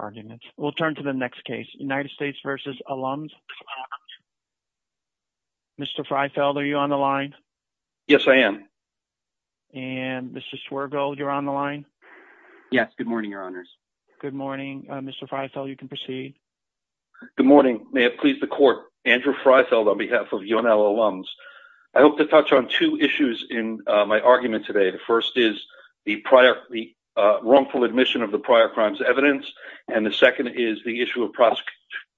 Mr. Freifeld, are you on the line? Yes, I am. And Mr. Swergold, you're on the line? Yes. Good morning, Your Honors. Good morning. Mr. Freifeld, you can proceed. Good morning. May it please the Court. Andrew Freifeld on behalf of UNL Alums. I hope to touch on two issues in my argument today. The first is the wrongful admission of the prior crimes evidence. And the second is the issue of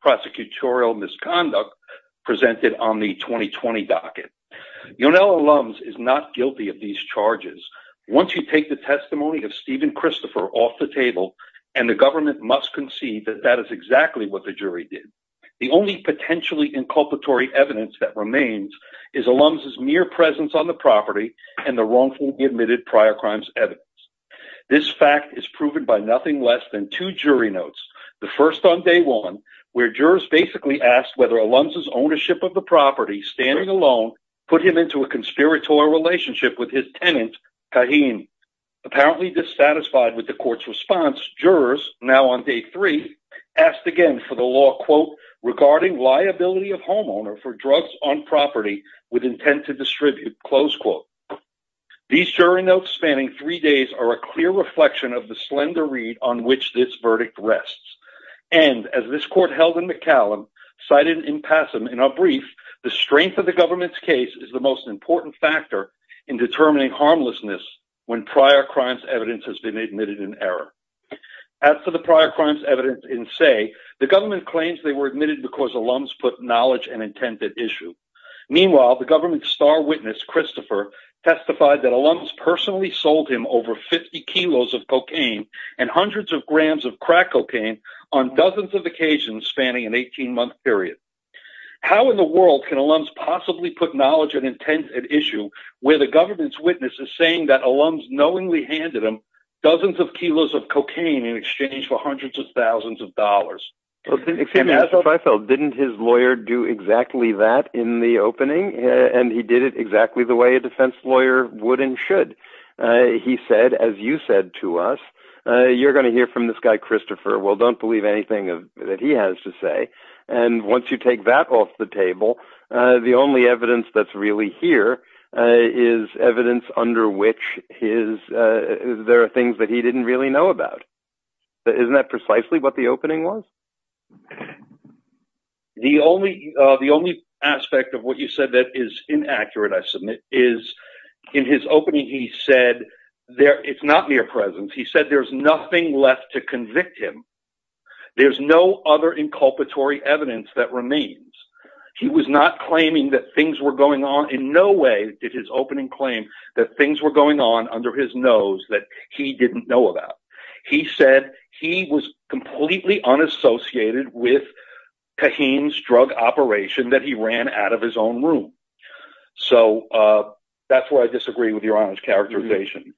prosecutorial misconduct presented on the 2020 docket. UNL Alums is not guilty of these charges. Once you take the testimony of Stephen Christopher off the table, and the government must concede that that is exactly what the jury did. The only admitted prior crimes evidence. This fact is proven by nothing less than two jury notes. The first on day one, where jurors basically asked whether Allums' ownership of the property, standing alone, put him into a conspiratorial relationship with his tenant, Kahin. Apparently dissatisfied with the court's response, jurors, now on day three, asked again for the law, quote, regarding liability of homeowner for drugs on property with intent to distribute, close quote. These jury notes spanning three days are a clear reflection of the slender read on which this verdict rests. And as this court held in McCallum, cited in Passam, in our brief, the strength of the government's case is the most important factor in determining harmlessness when prior crimes evidence has been admitted in error. As for the prior crimes evidence in say, the government claims they were admitted because Allums put knowledge and intent at issue. Meanwhile, the government's star witness, Christopher, testified that Allums personally sold him over 50 kilos of cocaine and hundreds of grams of crack cocaine on dozens of occasions, spanning an 18-month period. How in the world can Allums possibly put knowledge and intent at issue where the government's witness is saying that Allums knowingly handed him dozens of kilos of cocaine? Well, didn't his lawyer do exactly that in the opening? And he did it exactly the way a defense lawyer would and should. He said, as you said to us, you're going to hear from this guy, Christopher, well, don't believe anything that he has to say. And once you take that off the table, the only evidence that's really here is evidence under which his, there are things that he didn't really know about. Isn't that precisely what the opening was? The only aspect of what you said that is inaccurate, I submit, is in his opening, he said, it's not mere presence. He said there's nothing left to convict him. There's no other inculpatory evidence that remains. He was not claiming that things were going on. In no way did his opening claim that things were going on under his nose that he didn't know about. He said he was completely unassociated with Caheen's drug operation that he ran out of his own room. So that's where I disagree with your honor's characterization.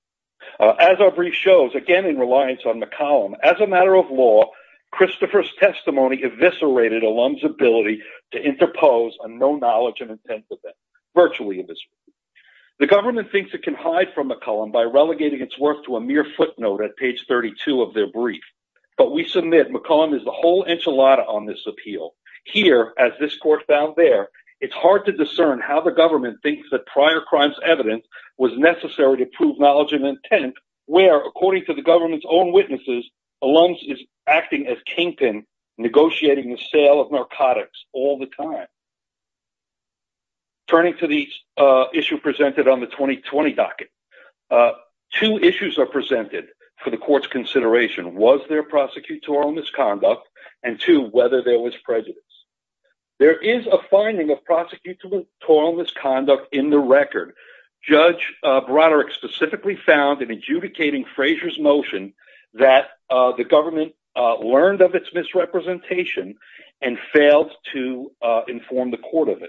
As our brief shows, again, in reliance on the column, as a matter of law, Christopher's testimony eviscerated Allums' ability to interpose a no knowledge and intent virtually. The government thinks it can hide from McCollum by relegating its work to a mere footnote at page 32 of their brief. But we submit McCollum is the whole enchilada on this appeal. Here, as this court found there, it's hard to discern how the government thinks that prior crimes evidence was necessary to prove knowledge and intent, where according to the government's own witnesses, Allums is acting as Kingpin negotiating the sale of narcotics all the time. Turning to the issue presented on the 2020 docket, two issues are presented for the court's consideration. Was there prosecutorial misconduct? And two, whether there was prejudice. There is a finding of prosecutorial misconduct in the record. Judge Broderick specifically found in adjudicating Frazier's motion that the government learned of its misrepresentation and failed to inform the trial.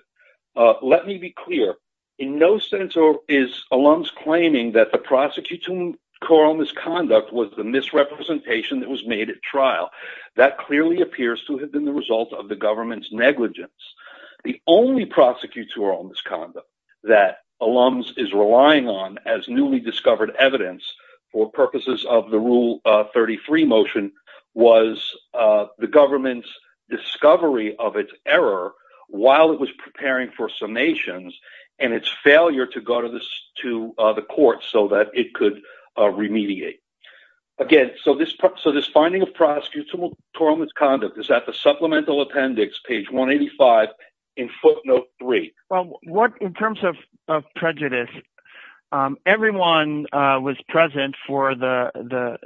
Let me be clear, in no sense is Allums claiming that the prosecutorial misconduct was the misrepresentation that was made at trial. That clearly appears to have been the result of the government's negligence. The only prosecutorial misconduct that Allums is relying on as newly discovered evidence for purposes of the Rule 33 motion was the government's discovery of its error while it was preparing for summations and its failure to go to the court so that it could remediate. Again, so this finding of prosecutorial misconduct is at the Supplemental Appendix, page 185, in footnote 3. Well, in terms of prejudice, everyone was present for the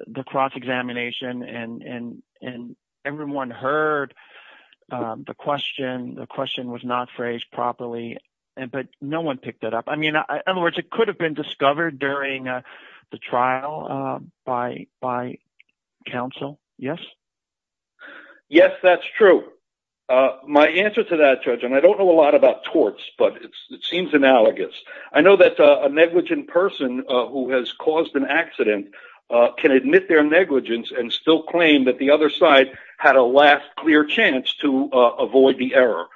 examination, and everyone heard the question. The question was not phrased properly, but no one picked it up. I mean, in other words, it could have been discovered during the trial by counsel. Yes? Yes, that's true. My answer to that, Judge, and I don't know a lot about torts, but it seems analogous. I know that a negligent person who has caused an accident can admit their negligence and still claim that the other side had a last clear chance to avoid the error,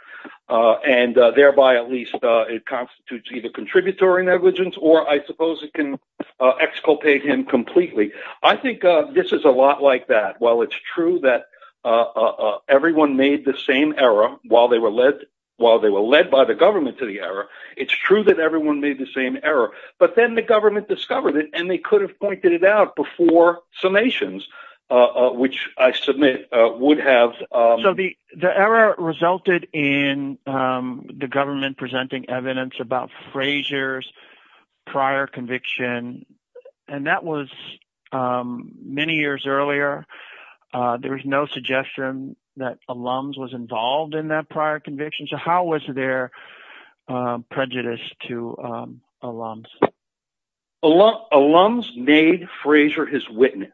and thereby at least it constitutes either contributory negligence, or I suppose it can exculpate him completely. I think this is a lot like that. While it's true that everyone made the same error while they were led by the government to the error, it's true that everyone made the same error, but then the government discovered it, and they could have pointed it out before summations, which I submit would have... So the error resulted in the government presenting evidence about Frazier's prior conviction, and that was many years earlier. There was no suggestion that Alums was involved in that prior conviction, so how was there prejudice to Alums? Alums made Frazier his witness.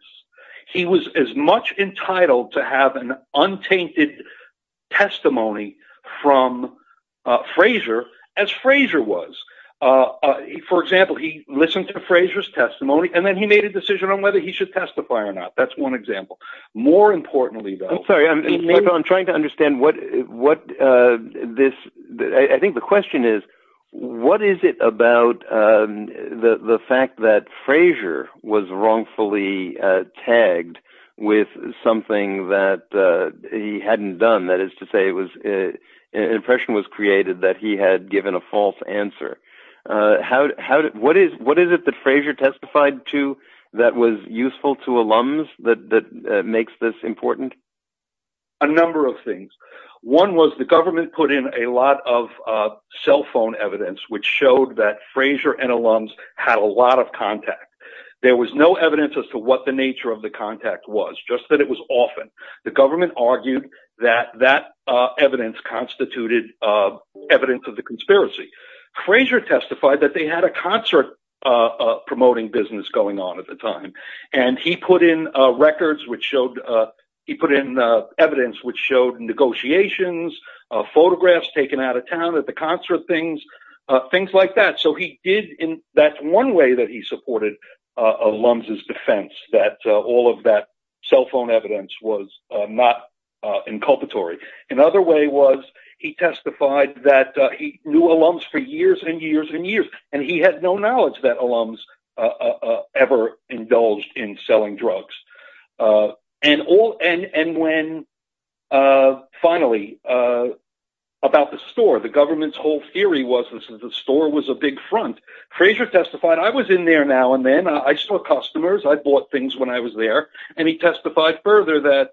He was as much entitled to have an untainted testimony from Frazier as Frazier was. For example, he listened to Frazier's testimony, and then he made a decision on whether he should testify or not. That's one example. More importantly, though... I think the question is, what is it about the fact that Frazier was wrongfully tagged with something that he hadn't done? That is to say, an impression was created that he had given a false answer. What is it that Frazier testified to that was useful to Alums that makes this cell phone evidence, which showed that Frazier and Alums had a lot of contact? There was no evidence as to what the nature of the contact was, just that it was often. The government argued that that evidence constituted evidence of the conspiracy. Frazier testified that they had a concert promoting business going on at the time, and he put in evidence which showed negotiations, photographs taken out of town at the concert, things like that. That's one way that he supported Alums' defense, that all of that cell phone evidence was not inculpatory. Another way was he testified that he knew Alums for years and years and years, and he had no knowledge that Alums ever indulged in selling drugs. Finally, about the store, the government's whole theory was that the store was a big front. Frazier testified, I was in there now and then, I saw customers, I bought things when I was there, and he testified further that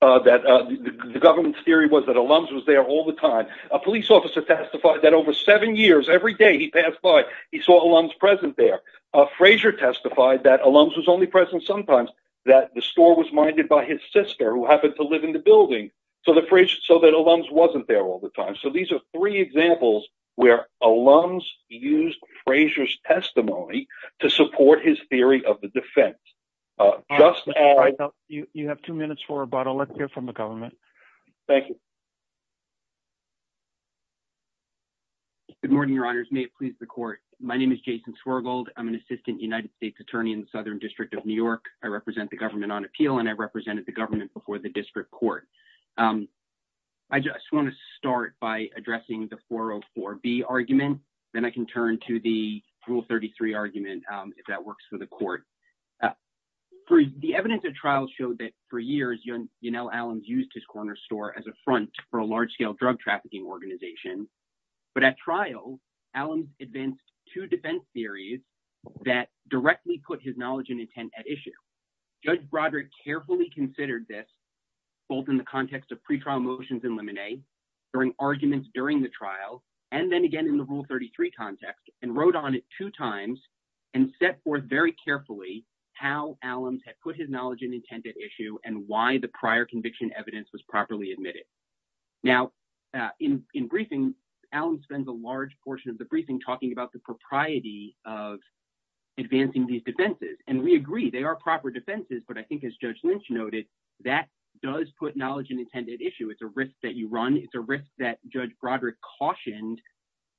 the government's theory was that Alums was there all the time. A police officer testified that over seven years, every day he passed by, he saw Alums present there. Frazier testified that Alums was only present sometimes, that the store was minded by his sister, who happened to live in the building, so that Alums wasn't there all the time. These are three examples where Alums used Frazier's testimony to support his theory of the defense. You have two minutes for rebuttal. Let's hear from the government. Thank you. Good morning, your honors. May it please the court. My name is Jason Swergold. I'm an assistant United States attorney in the Southern District of New York. I represent the government on appeal, and I represented the government before the district court. I just want to start by addressing the 404B argument. Then I can turn to the Rule 33 argument, if that works for the court. The evidence of trial showed that for years, Janelle Alums used his corner store as a front for a large-scale drug trafficking organization. But at trial, Alums advanced two defense theories that directly put his knowledge and intent at issue. We agree, they are proper defenses, but I think, as Judge Lynch noted, that does put his knowledge and intent at issue. It's a risk that you run. It's a risk that Judge Broderick cautioned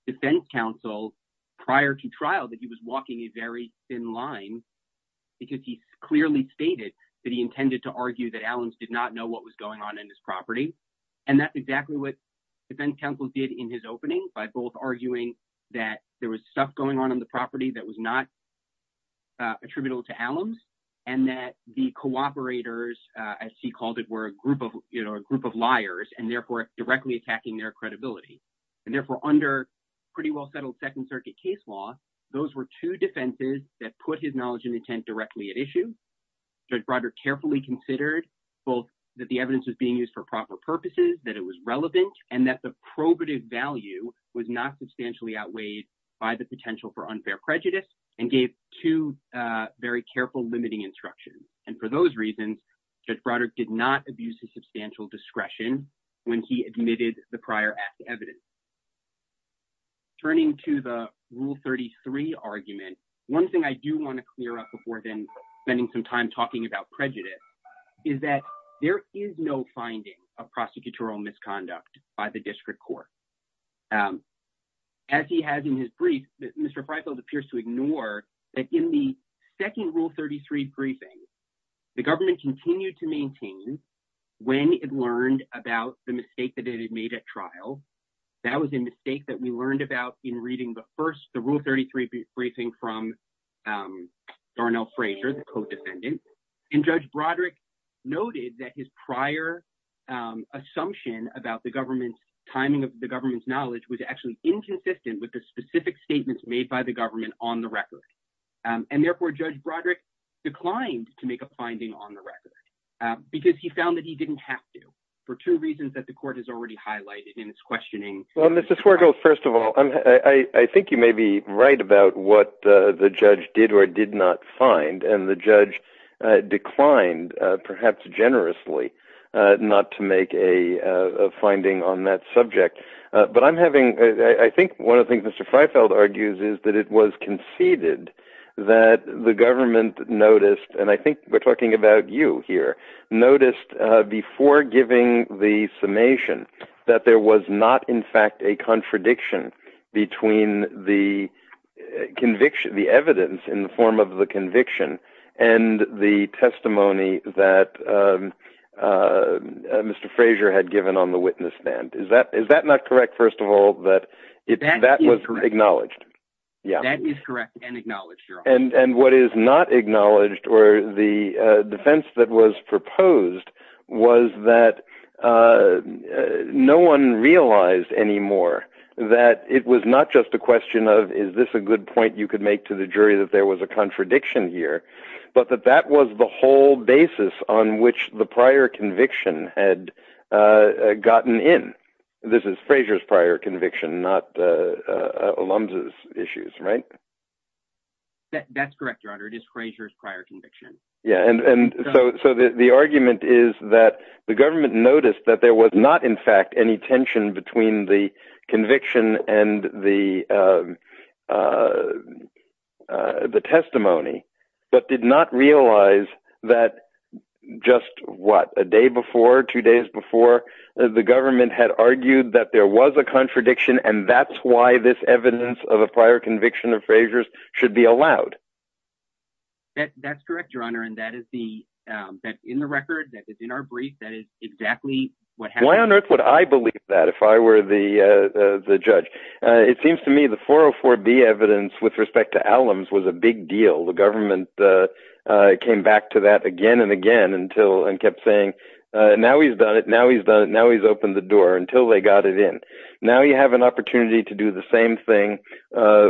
defense counsel prior to trial that he was walking a very thin line because he clearly stated that he intended to argue that Alums did not know what was going on in his property. That's exactly what defense counsel did in his opening by both arguing that there was stuff going on in the property that was not attributable to Alums, and that the cooperators, as he called it, were a group of liars, and therefore directly attacking their credibility. Therefore, under pretty well-settled Second Circuit case law, those were two defenses that put his knowledge and intent directly at issue. Judge Broderick carefully considered both that the evidence was being used for proper purposes, that it was relevant, and that the probative value was not substantially outweighed by the potential for unfair prejudice, and gave two very careful limiting instructions. For those reasons, Judge Broderick did not abuse his substantial discretion when he admitted the prior act evidence. Turning to the Rule 33 argument, one thing I do want to clear up before then spending some time talking about prejudice is that there is no finding of prosecutorial misconduct by the district court. As he has in his brief, Mr. Freifeld appears to ignore that in the second Rule 33 briefing. The government continued to maintain when it learned about the mistake that it had made at trial. That was a mistake that we learned about in reading the first Rule 33 briefing from Darnell Frazier, the co-defendant. Judge Broderick noted that his prior assumption about the government's timing of the government's knowledge was actually inconsistent with the to make a finding on the record, because he found that he didn't have to, for two reasons that the court has already highlighted in its questioning. Well, Mr. Swergel, first of all, I think you may be right about what the judge did or did not find, and the judge declined, perhaps generously, not to make a finding on that subject. But I'm having, I think one of the things Mr. Freifeld argues is that it was conceded that the government noticed, and I think we're talking about you here, noticed before giving the summation that there was not, in fact, a contradiction between the evidence in the form of the conviction and the testimony that Mr. Frazier had given on the witness stand. Is that not correct, first of all, that that was acknowledged? That is correct and acknowledged, Your Honor. And what is not acknowledged or the defense that was proposed was that no one realized anymore that it was not just a question of, is this a good point you could make to the jury that there was a contradiction here, but that that was the whole basis on which the prior conviction had gotten in. This is Frazier's prior conviction, not Alums' issues, right? That's correct, Your Honor. It is Frazier's prior conviction. Yeah. And so the argument is that the government noticed that there was not, in fact, any tension between the conviction and the testimony, but did not realize that just, what, a day before, two days before, the government had argued that there was a contradiction and that's why this evidence of a prior conviction of Frazier's should be allowed. That's correct, Your Honor, and that is the, that's in the record, that is in our brief, that is exactly what happened. Why on earth would I believe that if I were the judge? It seems to me the 404B evidence with respect to Alums was a big deal. The government came back to that again and again until, and kept saying, now he's done it, now he's done it, now he's opened the door, until they got it in. Now you have an opportunity to do the same thing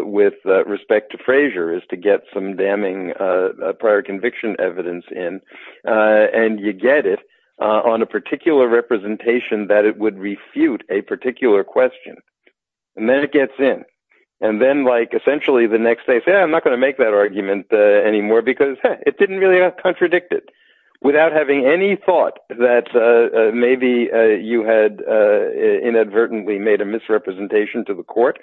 with respect to Frazier, is to get some damning prior conviction evidence in, and you get it on a particular representation that it would refute a particular question, and then it gets in. And then, like, essentially the next day, say, I'm not going to make that argument anymore because, hey, it didn't really contradict it. Without having any thought that maybe you had inadvertently made a misrepresentation to the court,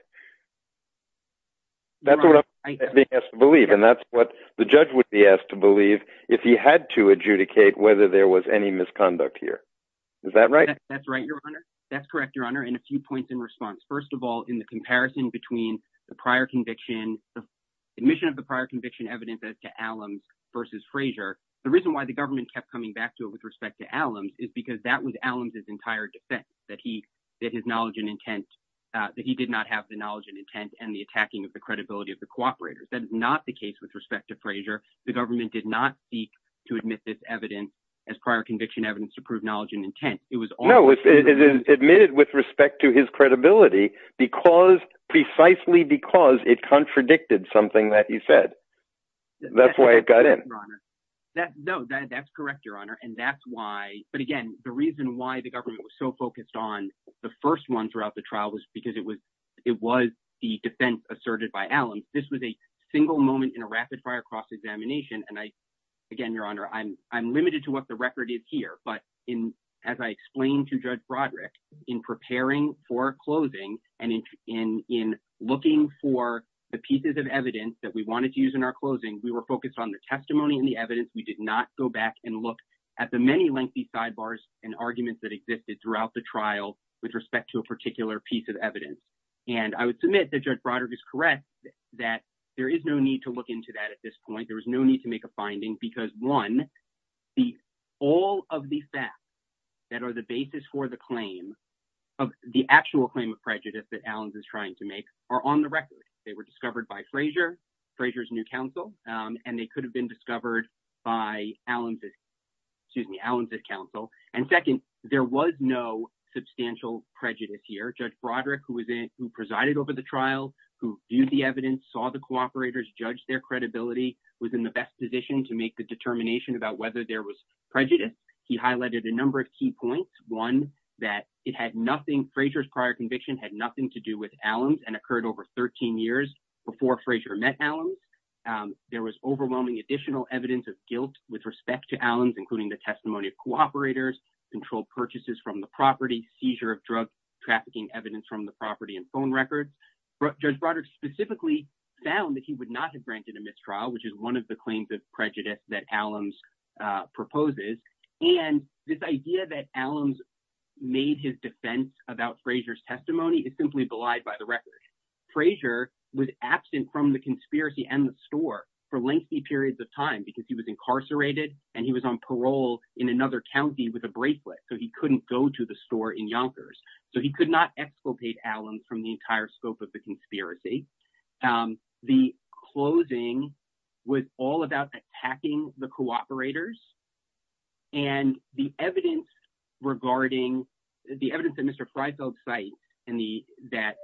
that's what I'm being asked to believe, and that's what the judge would be asked to believe if he had to adjudicate whether there was any misconduct here. Is that right? That's right, Your Honor. That's correct, Your Honor, and a few points in response. First of all, in the comparison between the prior conviction, the admission of the prior conviction evidence as to Allums versus Frazier, the reason why the government kept coming back to it with respect to Allums is because that was Allums' entire defense, that he did not have the knowledge and intent and the attacking of the credibility of the cooperators. That is not the case with respect to Frazier. The government did not seek to admit this evidence as prior conviction evidence to prove knowledge and intent. No, it is admitted with respect to his credibility precisely because it contradicted something that he said. That's why it got in. No, that's correct, Your Honor, and that's why, but again, the reason why the government was so focused on the first one throughout the trial was because it was the defense asserted by Allums. This was a single moment in a rapid-fire cross-examination, and again, Your Honor, I'm limited to what the record is here, but as I explained to Judge Broderick, in preparing for closing and in looking for the pieces of evidence that we wanted to use in our closing, we were focused on the testimony and the evidence. We did not go back and look at the many lengthy sidebars and arguments that existed throughout the trial with respect to a particular piece of evidence, and I would submit that Judge Broderick is correct that there is no need to look into that at this because, one, all of the facts that are the basis for the claim of the actual claim of prejudice that Allums is trying to make are on the record. They were discovered by Frazier, Frazier's new counsel, and they could have been discovered by Allums' counsel, and second, there was no substantial prejudice here. Judge Broderick, who presided over the trial, who viewed the evidence, saw the cooperators, judged their credibility, was in the best position to make the determination about whether there was prejudice. He highlighted a number of key points, one, that it had nothing, Frazier's prior conviction had nothing to do with Allums and occurred over 13 years before Frazier met Allums. There was overwhelming additional evidence of guilt with respect to Allums, including the testimony of cooperators, controlled purchases from the property, seizure of drugs, trafficking evidence from the property, and phone records. Judge Broderick specifically found that he would not have granted a mistrial, which is one of the claims of prejudice that Allums proposes, and this idea that Allums made his defense about Frazier's testimony is simply belied by the record. Frazier was absent from the conspiracy and the store for lengthy periods of time because he was incarcerated and he was on parole in another county with a bracelet, so he couldn't go to the store in Yonkers. So, he could not exfiltrate Allums from the entire scope of the conspiracy. The closing was all about attacking the cooperators, and the evidence regarding, the evidence that Mr. Freifeld cited that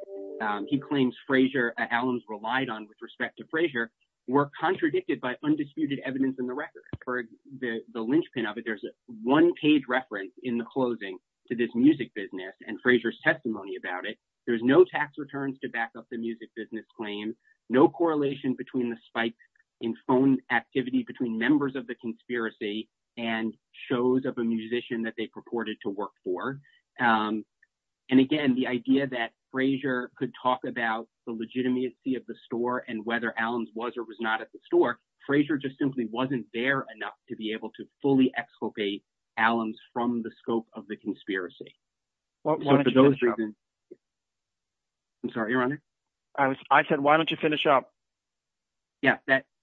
he claims Allums relied on with respect to Frazier were contradicted by undisputed evidence in the record. For the linchpin of it, there's a one-page reference in the closing to this music business and Frazier's testimony about it. There's no tax returns to back up the music business claim, no correlation between the spikes in phone activity between members of the conspiracy and shows of a musician that they purported to work for. And again, the idea that Frazier could talk about the legitimacy of the store and whether Allums was or was not at the store, Frazier just simply wasn't there enough to be able to fully exfiltrate Allums from the scope of the conspiracy. So, for those reasons, I'm sorry, Your Honor? I said, why don't you finish up? Yeah,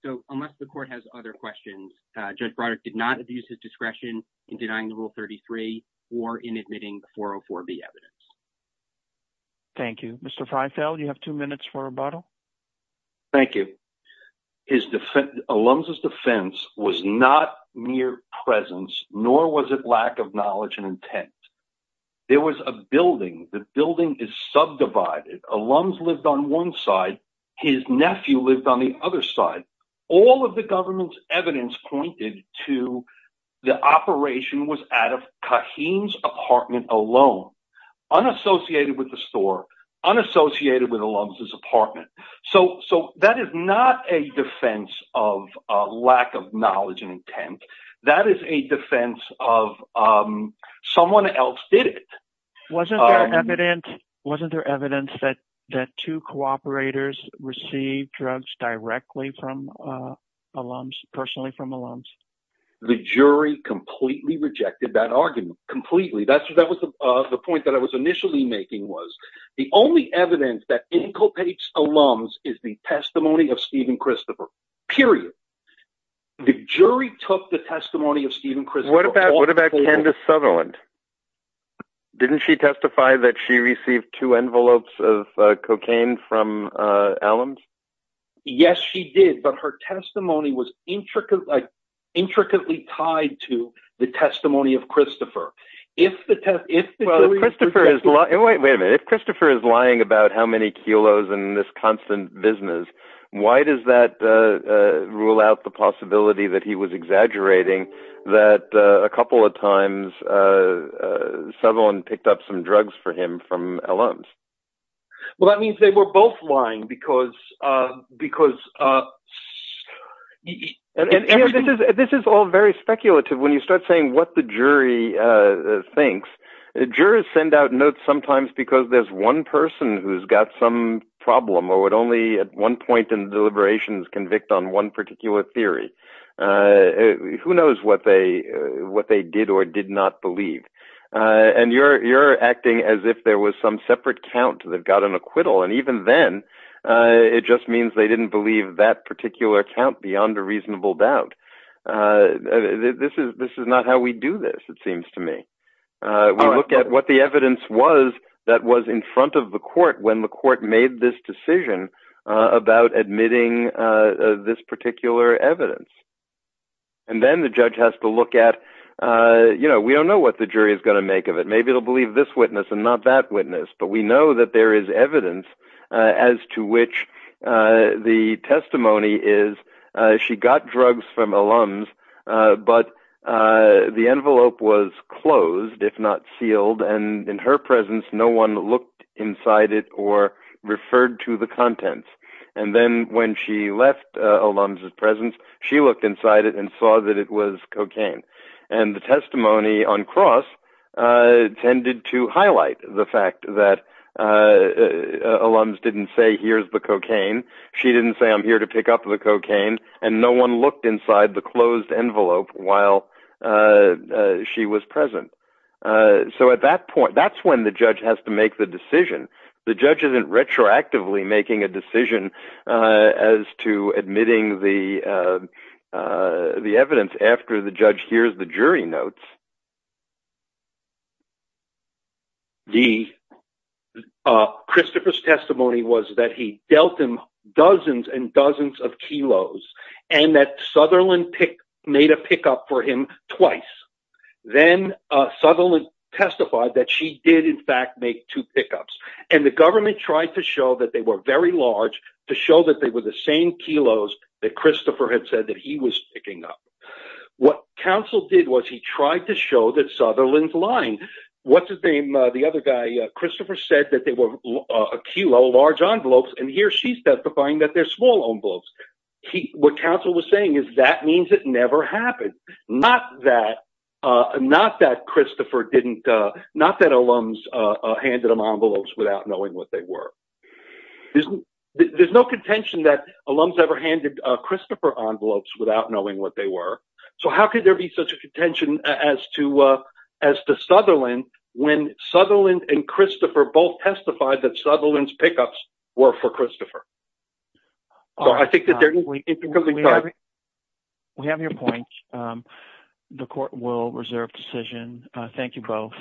so unless the court has other questions, Judge Broderick did not abuse his discretion in denying the Rule 33 or in admitting the 404B evidence. Thank you. Mr. Freifeld, you have two minutes for rebuttal. Thank you. Allums' defense was not mere presence, nor was it lack of knowledge and intent. There was a building. The building is subdivided. Allums lived on one side. His nephew lived on the other side. All of the government's evidence pointed to the operation was out of Kaheem's apartment alone, unassociated with the store, unassociated with Allums' apartment. So that is not a defense of lack of knowledge and intent. That is a defense of someone else did it. Wasn't there evidence that two cooperators received drugs directly from Allums, personally from Allums? The jury completely rejected that argument. Completely. That was the point that I was initially making was the only evidence that inculcates Allums is the testimony of Stephen Christopher, period. The jury took the testimony of Stephen Christopher. What about Candace Sutherland? Didn't she testify that she received two envelopes of cocaine from Allums? Yes, she did. But her testimony was intricately tied to the testimony of Christopher. Wait a minute. If Christopher is lying about how many kilos in this constant business, why does that rule out the possibility that he was exaggerating that a Well, that means they were both lying. This is all very speculative. When you start saying what the jury thinks, jurors send out notes sometimes because there's one person who's got some problem or would only at one point in the deliberations convict on one particular theory. Who knows what they did or did not believe? You're acting as if there was some separate count that got an acquittal. Even then, it just means they didn't believe that particular count beyond a reasonable doubt. This is not how we do this, it seems to me. We look at what the evidence was that was in front of the court when the court made this decision about admitting this particular evidence. And then the judge has to look at, you know, we don't know what the jury is going to make of it. Maybe it'll believe this witness and not that witness. But we know that there is evidence as to which the testimony is, she got drugs from Allums. But the envelope was closed, if not sealed, and in her presence, no one looked inside it or referred to the contents. And then when she left Allums' presence, she looked inside it and saw that it was cocaine. And the testimony on cross tended to highlight the fact that Allums didn't say, here's the cocaine. She didn't say, I'm here to pick up the cocaine. And no one looked inside the closed envelope while she was present. So at that point, that's when the judge has to make the decision. The judge isn't retroactively making a decision as to admitting the evidence after the judge hears the jury notes. The Christopher's testimony was that he dealt him dozens and dozens of kilos and that Sutherland made a pickup for him twice. Then Sutherland testified that she did in fact make two pickups. And the government tried to show that they were very large to show that they were the same kilos that Christopher had said that he was picking up. What counsel did was he tried to show that Sutherland's lying. What's his name? The other guy, Christopher said that they were a kilo large envelopes. And here she's testifying that they're small envelopes. What counsel was saying is that means it never happened. Not that Christopher didn't, not that Allums handed him envelopes without knowing what they were. There's no contention that Allums ever handed Christopher envelopes without knowing what they were. So how could there be such a contention as to Sutherland when Sutherland and Christopher both testified that Sutherland's pickups were for Christopher? We have your point. The court will reserve decision. Thank you both.